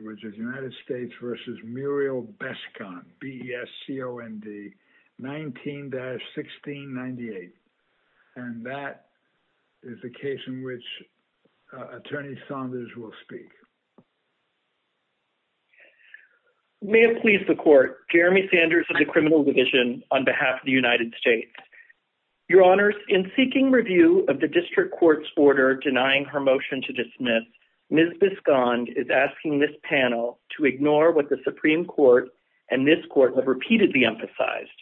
v. Muriel Biscond, B-E-S-C-O-N-D, 19-1698. And that is the case in which Attorney Saunders will speak. May it please the Court, Jeremy Sanders of the Criminal Division on behalf of the United States. Your Honors, in seeking review of the case, I would like to ask the panel to ignore what the Supreme Court and this Court have repeatedly emphasized,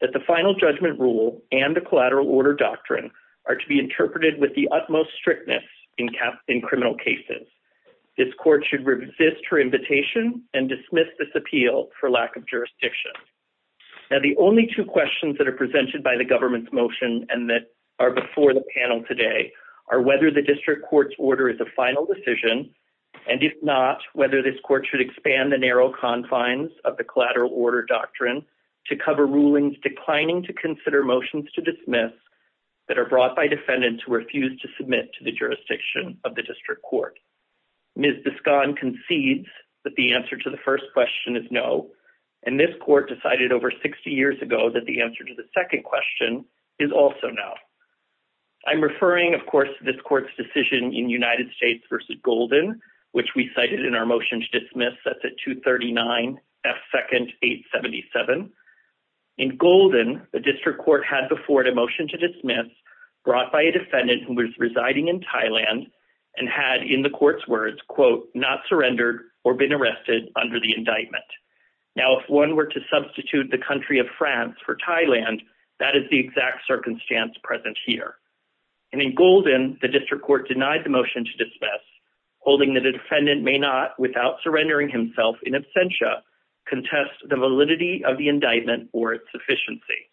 that the Final Judgment Rule and the Collateral Order Doctrine are to be interpreted with the utmost strictness in criminal cases. This Court should resist her invitation and dismiss this appeal for lack of jurisdiction. Now, the only two questions that are presented by the government's motion and that are before the panel today are whether the District Court's order is a final decision, and if not, whether this Court should expand the narrow confines of the Collateral Order Doctrine to cover rulings declining to consider motions to dismiss that are brought by defendants who refuse to submit to the jurisdiction of the District Court. Ms. Biscond concedes that the answer to the first question is no, and this Court decided over 60 years ago that the answer to the second question is also no. I'm referring, of course, to this Court's decision in United States v. Golden, which we cited in our motion to dismiss, that's at 239 F. 2nd. 877. In Golden, the District Court had before it a motion to dismiss brought by a defendant who was residing in Thailand and had, in the Court's words, quote, not surrendered or been arrested under the indictment. Now, if one were to substitute the country of France for Thailand, that is the exact circumstance present here. And in Golden, the District Court denied the motion to dismiss, holding that a defendant may not, without surrendering himself in absentia, contest the validity of the indictment or its sufficiency.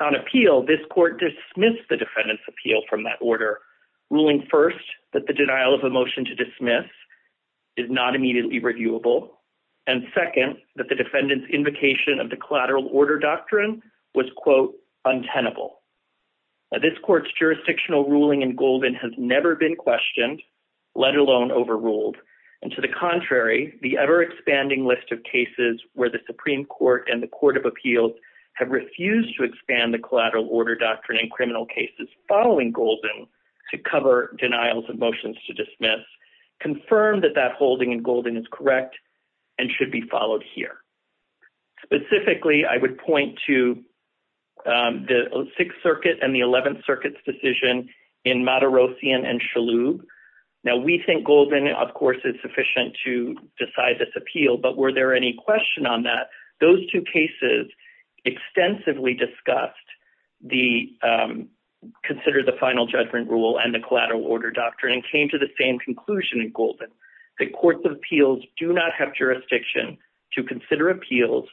On appeal, this Court dismissed the defendant's appeal from that order, ruling first that the denial of a motion to dismiss is not immediately reviewable, and This Court's jurisdictional ruling in Golden has never been questioned, let alone overruled, and to the contrary, the ever-expanding list of cases where the Supreme Court and the Court of Appeals have refused to expand the collateral order doctrine in criminal cases following Golden to cover denials of motions to dismiss confirm that that holding in Golden is correct and should be followed here. Specifically, I would point to the Sixth Circuit and the Eleventh Circuit's decision in Matarossian and Shalhoub. Now, we think Golden, of course, is sufficient to decide this appeal, but were there any question on that? Those two cases extensively discussed the Consider the Final Judgment Rule and the Collateral Order Doctrine and came to the same conclusion in Golden, that Courts of Appeals do not have jurisdiction to consider appeals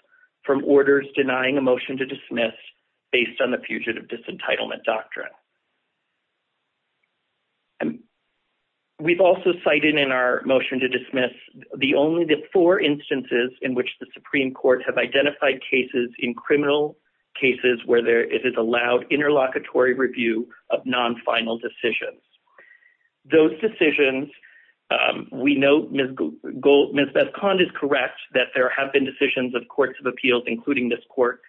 from orders denying a motion to dismiss based on the Fugitive Disentitlement Doctrine. We've also cited in our motion to dismiss the only four instances in which the Supreme Court has identified cases in criminal cases where it is allowed interlocutory review of non-final decisions. Those decisions, we know Ms. Beskond is correct that there have been decisions of Courts of Appeals, including this Court,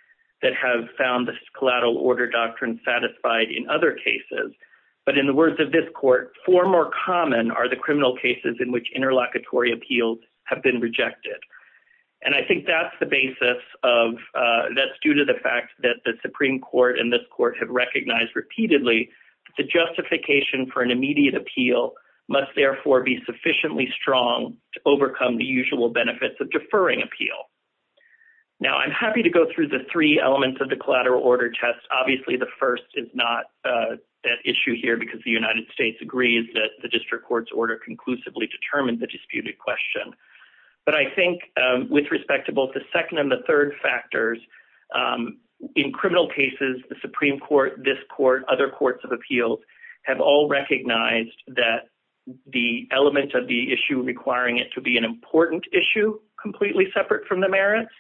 that have found this collateral order doctrine satisfied in other cases. But in the words of this Court, four more common are the criminal cases in which interlocutory appeals have been rejected. And I think that's the basis of, that's due to the fact that the Supreme Court and this Court have recognized repeatedly that the justification for an immediate appeal must therefore be sufficiently strong to overcome the usual benefits of deferring appeal. Now, I'm happy to go through the three elements of the collateral order test. Obviously, the first is not that issue here because the United States agrees that the District Court's order conclusively determined the disputed question. But I think with respect to both the second and the third factors, in criminal cases, the Supreme Court, this Court, other Courts of Appeals have all recognized that the element of the issue requiring it to be an important issue, completely separate from the merits,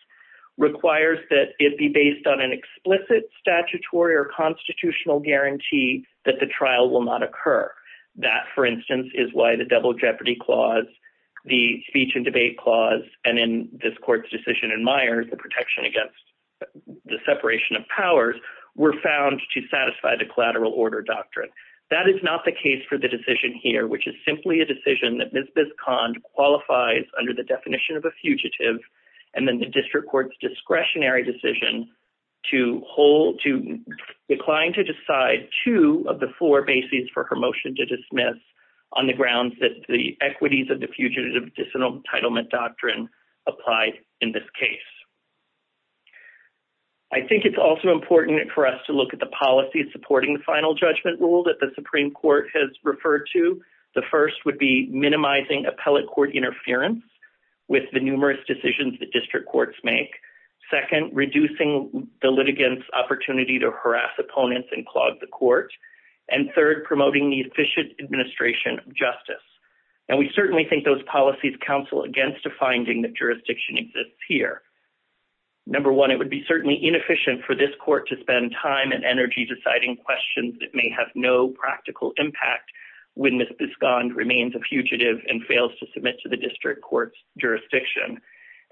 requires that it be based on an explicit statutory or constitutional guarantee that the trial will not occur. That, for instance, is why the double jeopardy clause, the speech and debate clause, and in this Court's decision in Myers, the protection against the separation of powers, were found to satisfy the collateral order doctrine. That is not the case for the decision here, which is simply a decision that Ms. Biscond qualifies under the definition of a fugitive and then the District Court's discretionary decision to hold, to decline to decide two of the four bases for her motion to dismiss on the grounds that the equities of the fugitive disentitlement doctrine applied in this case. I think it's also important for us to look at the policies supporting the final judgment rule that the Supreme Court has referred to. The first would be minimizing appellate court interference with the numerous decisions the District Courts make. Second, reducing the litigants' opportunity to harass opponents and clog the court. And third, promoting the efficient administration of justice. And we certainly think those policies counsel against a finding that jurisdiction exists here. Number one, it would be certainly inefficient for this Court to spend time and energy deciding questions that may have no practical impact when Ms. Biscond remains a fugitive and fails to submit to the District Court's jurisdiction.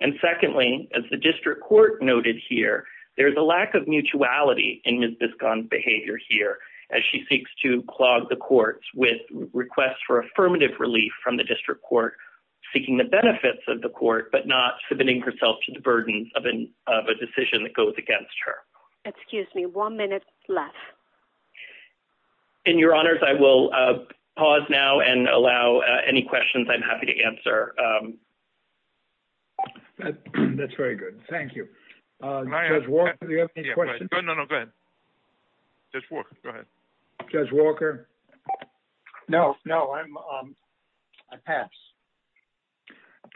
And secondly, as the District Court noted here, there is a lack of mutuality in Ms. Biscond's behavior here as she seeks to clog the courts with requests for affirmative relief from the District Court, seeking the benefits of the court but not submitting herself to the burdens of a decision that goes against her. Excuse me, one minute left. In your honors, I will pause now and allow any questions I'm happy to answer. That's very good. Thank you. Judge Walker, do you have any questions? No, no, no, go ahead. Judge Walker, go ahead. Judge Walker? No, no, I pass.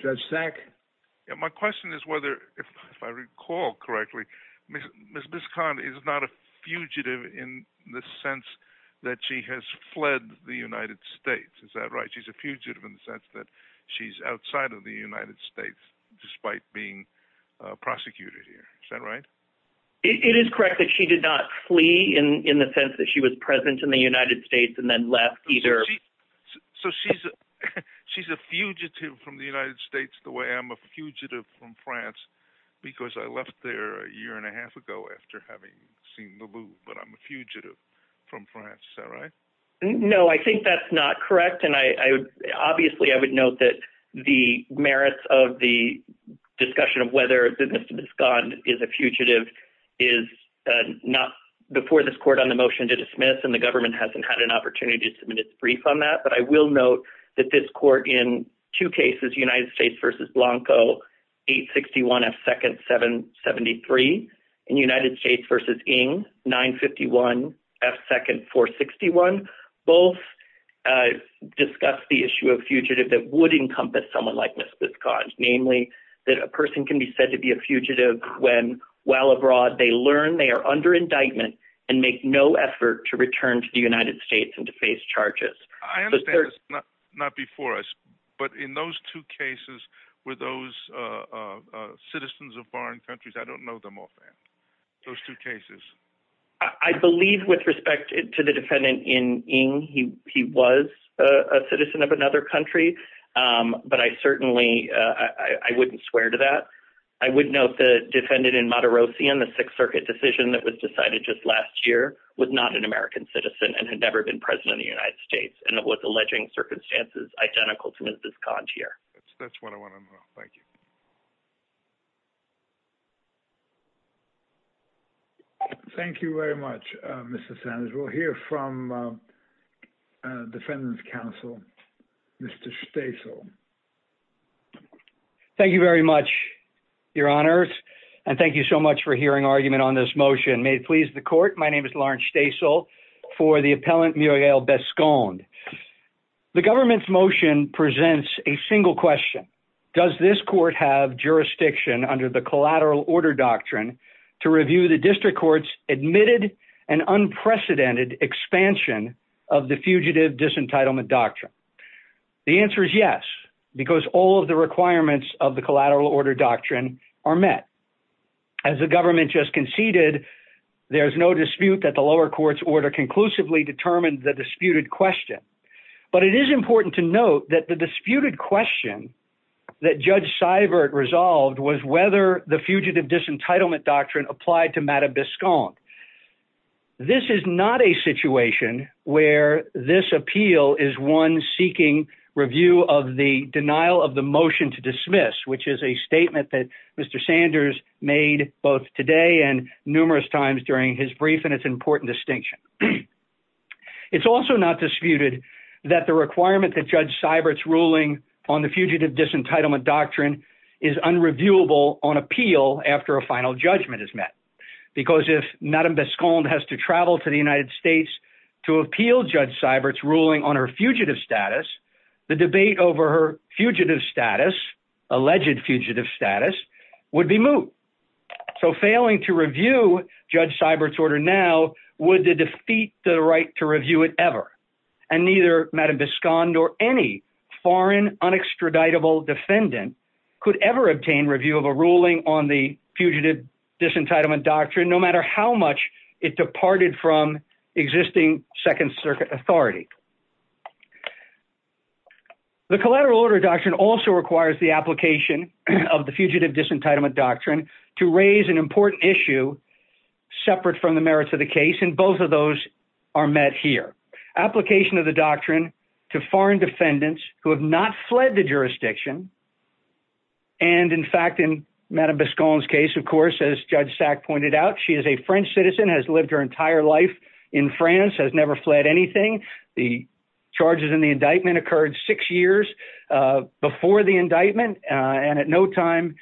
Judge Sack? My question is whether, if I recall correctly, Ms. Biscond is not a fugitive in the sense that she has fled the United States, is that right? She's a fugitive in the sense that she's outside of the United States, despite being prosecuted here, is that right? It is correct that she did not flee in the sense she was present in the United States and then left, either. So she's a fugitive from the United States the way I'm a fugitive from France, because I left there a year and a half ago after having seen the Louvre, but I'm a fugitive from France, is that right? No, I think that's not correct, and obviously I would note that the merits of the discussion of whether Ms. Biscond is a fugitive is not before this court on the motion to dismiss, and the government hasn't had an opportunity to submit its brief on that, but I will note that this court in two cases, United States v. Blanco 861 F. 2nd 773 and United States v. Ng 951 F. 2nd 461, both discussed the issue of fugitive that would encompass someone like Ms. Biscond, namely that a person can be said to be a fugitive when while abroad they learn they are under indictment and make no effort to return to the United States and to face charges. I understand this is not before us, but in those two cases, were those citizens of foreign countries? I don't know them offhand, those two cases. I believe with respect to the defendant in Ng, he was a citizen of another country, but I certainly, I wouldn't swear to that. I would note the defendant in Matarossian, the Sixth Circuit decision that was decided just last year, was not an American citizen and had never been president of the United States, and it was alleging circumstances identical to Ms. Biscond here. That's what I want to know. Thank you. Thank you very much, Mr. Sanders. We'll hear from defendant's counsel, Mr. Stasel. Thank you very much, Your Honors, and thank you so much for hearing argument on this motion. May it please the court, my name is Lawrence Stasel for the appellant Muriel Biscond. The government's motion presents a single question. Does this court have jurisdiction under the Collateral Order Doctrine to review the district court's admitted and unprecedented expansion of the Fugitive Disentitlement Doctrine? The answer is yes, because all of the requirements of the Collateral Order Doctrine are met. As the government just conceded, there's no dispute that the lower court's order conclusively determined the disputed question. But it is important to note that the disputed question that Judge Seibert resolved was whether the Fugitive Disentitlement Doctrine applied to Madam Biscond. This is not a situation where this appeal is one seeking review of the denial of the motion to dismiss, which is a statement that during his brief and its important distinction. It's also not disputed that the requirement that Judge Seibert's ruling on the Fugitive Disentitlement Doctrine is unreviewable on appeal after a final judgment is met. Because if Madam Biscond has to travel to the United States to appeal Judge Seibert's ruling on her fugitive status, the debate over her fugitive status, alleged fugitive status, would be moot. So failing to review Judge Seibert's order now would defeat the right to review it ever. And neither Madam Biscond or any foreign, unextraditable defendant could ever obtain review of a ruling on the Fugitive Disentitlement Doctrine, no matter how much it departed from existing Second Circuit authority. The Collateral Order Doctrine also requires the application of the Fugitive Disentitlement Doctrine to raise an important issue separate from the merits of the case, and both of those are met here. Application of the doctrine to foreign defendants who have not fled the jurisdiction, and in fact, in Madam Biscond's case, of course, as Judge Sack pointed out, she is a French citizen, has lived her entire life in France, has never fled anything. The charges in the indictment occurred six years before the indictment, and at no time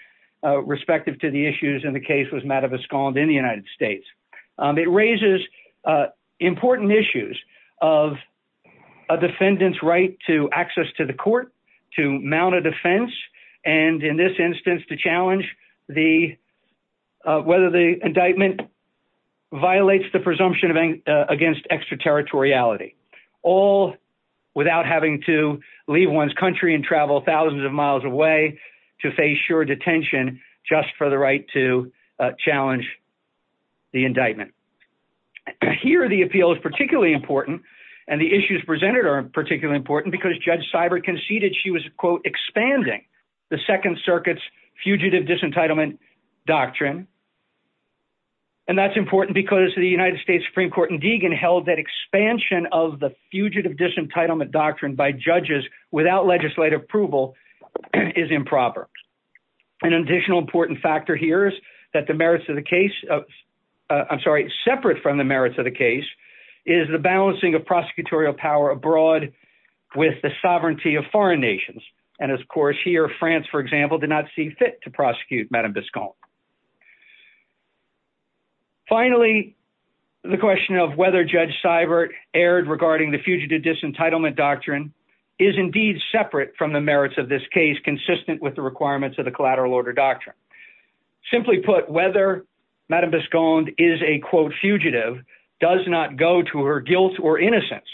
respective to the issues in the case was Madam Biscond in the United States. It raises important issues of a defendant's right to access to the court, to mount a defense, and in this instance, to challenge whether the indictment violates the presumption against extraterritoriality, all without having to leave one's country and travel thousands of miles away to face sure detention just for the right to challenge the indictment. Here, the appeal is particularly important, and the issues presented are particularly important because Judge Seibert conceded she was, quote, expanding the Second Circuit's Fugitive Disentitlement Doctrine, and that's important because the United States Supreme Court in Deagon held that expansion of the Fugitive Disentitlement Doctrine by judges without legislative approval is improper. An additional important factor here is that the merits of the case, I'm sorry, separate from the merits of the case, is the balancing of prosecutorial power abroad with the sovereignty of foreign nations, and of course, here, France, for example, did not see fit to prosecute Madame Bisconde. Finally, the question of whether Judge Seibert erred regarding the Fugitive Disentitlement Doctrine is indeed separate from the merits of this case, consistent with the requirements of the Collateral Order Doctrine. Simply put, whether Madame Bisconde is a, quote, fugitive does not go to her guilt or innocence,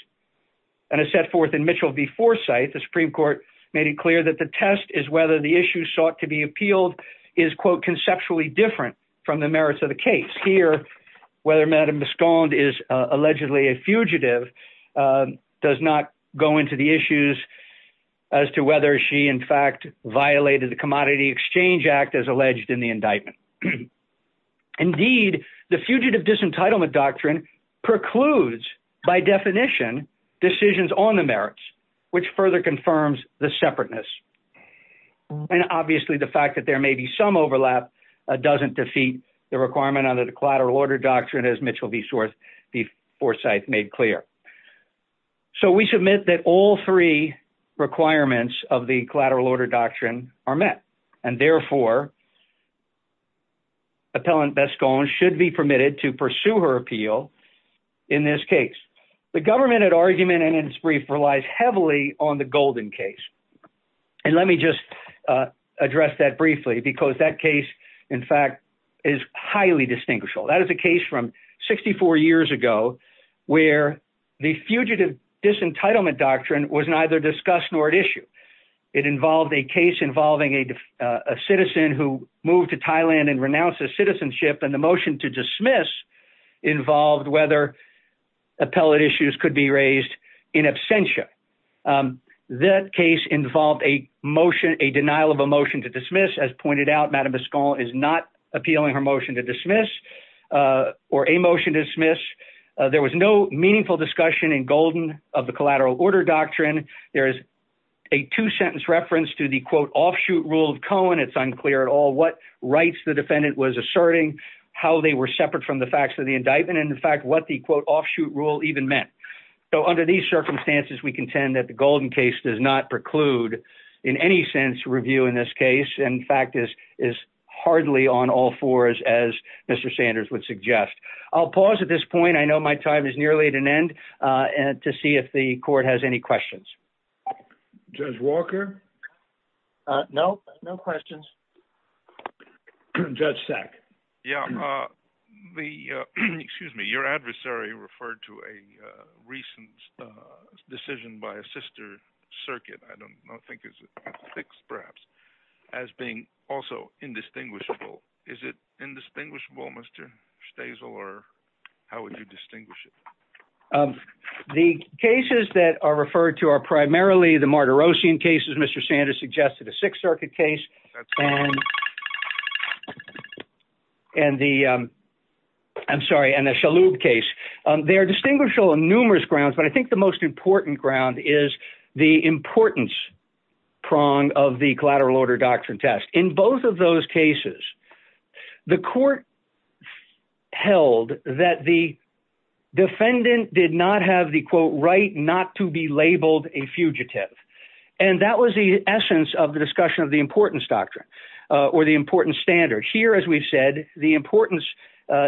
and as set forth in Mitchell v. Forsythe, the Supreme Court made it clear that the test is sought to be appealed is, quote, conceptually different from the merits of the case. Here, whether Madame Bisconde is allegedly a fugitive does not go into the issues as to whether she, in fact, violated the Commodity Exchange Act as alleged in the indictment. Indeed, the Fugitive Disentitlement Doctrine precludes, by definition, decisions on the merits, which further confirms the separateness, and obviously, the fact that there may be some overlap doesn't defeat the requirement under the Collateral Order Doctrine, as Mitchell v. Forsythe made clear. So, we submit that all three requirements of the Collateral Order Doctrine are met, and therefore, Appellant Bisconde should be permitted to pursue her appeal in this case. The government at argument in its brief relies heavily on the Golden case, and let me just address that briefly, because that case, in fact, is highly distinguishable. That is a case from 64 years ago where the Fugitive Disentitlement Doctrine was neither discussed nor at issue. It involved a case involving a citizen who moved to Thailand and renounced his citizenship, and the motion to dismiss involved whether appellate issues could be raised in absentia. That case involved a motion, a denial of a motion to dismiss. As pointed out, Madame Bisconde is not appealing her motion to dismiss or a motion to dismiss. There was no meaningful discussion in Golden of the Collateral Order Doctrine. There is a two-sentence reference to the, quote, offshoot rule of Cohen. It's unclear at all what rights the defendant was asserting, how they were separate from the facts of the indictment, and, in fact, what the, quote, offshoot rule even meant. So, under these circumstances, we contend that the Golden case does not preclude, in any sense, review in this case, and, in fact, is hardly on all fours, as Mr. Sanders would suggest. I'll pause at this point. I know my time is nearly at an end, to see if the Court has any questions. Judge Walker? No? No questions? Judge Sack? Yeah. The, excuse me, your adversary referred to a recent decision by a sister circuit, I don't know, I think it's a six, perhaps, as being also indistinguishable. Is it indistinguishable, Mr. Stasel, or how would you distinguish it? The cases that are referred to are primarily the Martirosian cases Mr. Sanders suggested, a Sixth Circuit case, and the, I'm sorry, and the Shalhoub case. They are distinguishable on numerous grounds, but I think the most important ground is the importance prong of the collateral order doctrine test. In both of those cases, the Court held that the defendant did not have the, quote, right not to be labeled a fugitive, and that was the essence of the discussion of the importance doctrine, or the importance standard. Here, as we've said, the importance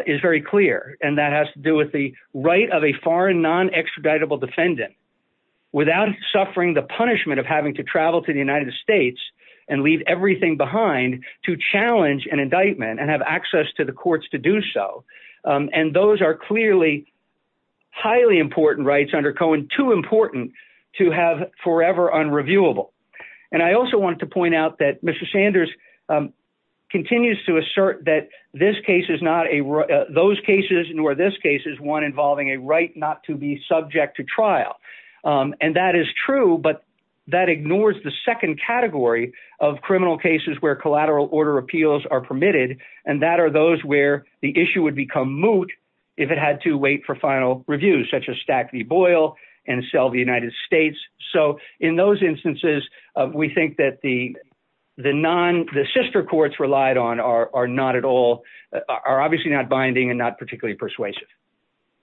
is very clear, and that has to do with the right of a foreign, non-extraditable defendant, without suffering the punishment of having to travel to the United States and leave everything behind to challenge an indictment and have access to the courts to do so. And those are clearly highly important rights under Cohen, too important to have forever unreviewable. And I also wanted to point out that Mr. Sanders continues to assert that this case is not a, those cases nor this case is one involving a right not to be subject to trial. And that is true, but that ignores the second category of criminal cases where collateral order appeals are permitted, and that are those where the issue would become moot if it had to wait for final reviews, such as stack the boil and sell the United States. So in those instances, we think that the non, the sister courts relied on are not at all, are obviously not binding and not particularly persuasive.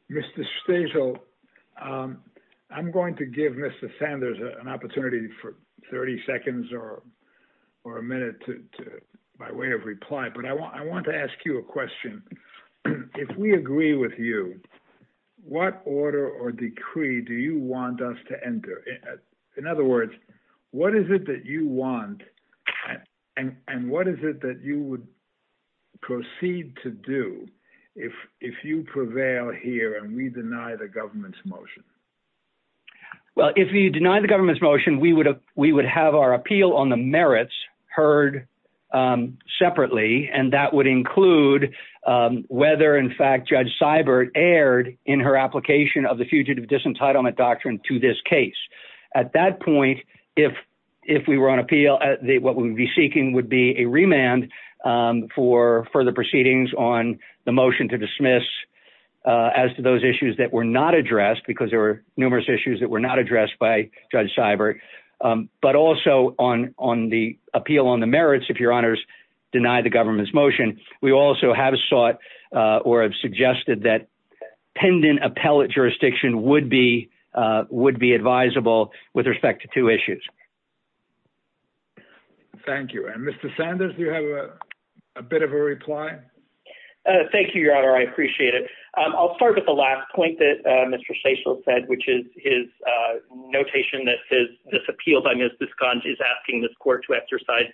Mr. Stasiel, I'm going to give Mr. Sanders an opportunity for 30 seconds or a minute by way of reply, but I want to ask you a question. If we agree with you, what order or decree do you want us to enter? In other words, what is it that you want and what is it that you would proceed to do if, if you prevail here and we deny the government's motion? Well, if you deny the government's motion, we would, we would have our appeal on the merits heard separately. And that would include whether in fact, Judge Seibert aired in her application of the fugitive disentitlement doctrine to this case. At that point, if, if we were on appeal, what we would be seeking would be a remand for further proceedings on the motion to dismiss as to those issues that were not addressed, because there were numerous issues that were not addressed by Judge Seibert. But also on, on the appeal on the merits, if your honors deny the government's motion, we also have sought or have suggested that pendant appellate jurisdiction would be, would be advisable with respect to two issues. Thank you. And Mr. Sanders, do you have a bit of a reply? Thank you, your honor. I appreciate it. I'll start with the last point that Mr. Seichelt said, which is his notation that says this appeal by Ms. Biscons is asking this court to exercise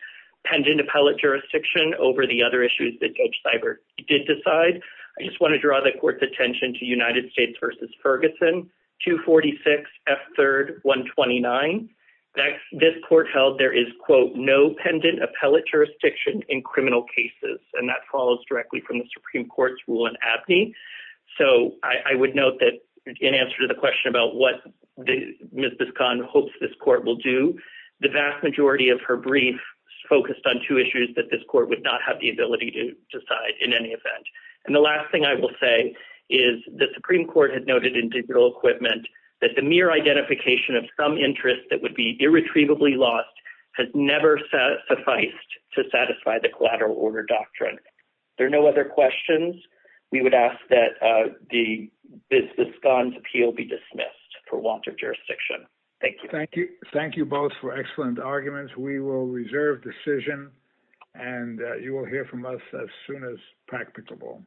pendant appellate jurisdiction over the other issues that Judge Seibert did decide. I just want to draw the court's attention to United States versus Ferguson, 246 F third 129. This court held there is quote, no pendant appellate jurisdiction in criminal cases. And that follows directly from the Supreme Court's rule in Abney. So I would note that in answer to the question about what Ms. Biscons hopes this court will do, the vast majority of her brief focused on two issues that this court would not have the ability to decide in any event. And the last thing I will say is the Supreme Court had noted in digital equipment that the identification of some interest that would be irretrievably lost has never satisfied to satisfy the collateral order doctrine. There are no other questions. We would ask that the Biscons appeal be dismissed for want of jurisdiction. Thank you. Thank you. Thank you both for excellent arguments. We will reserve decision and you will hear from us as soon as practicable.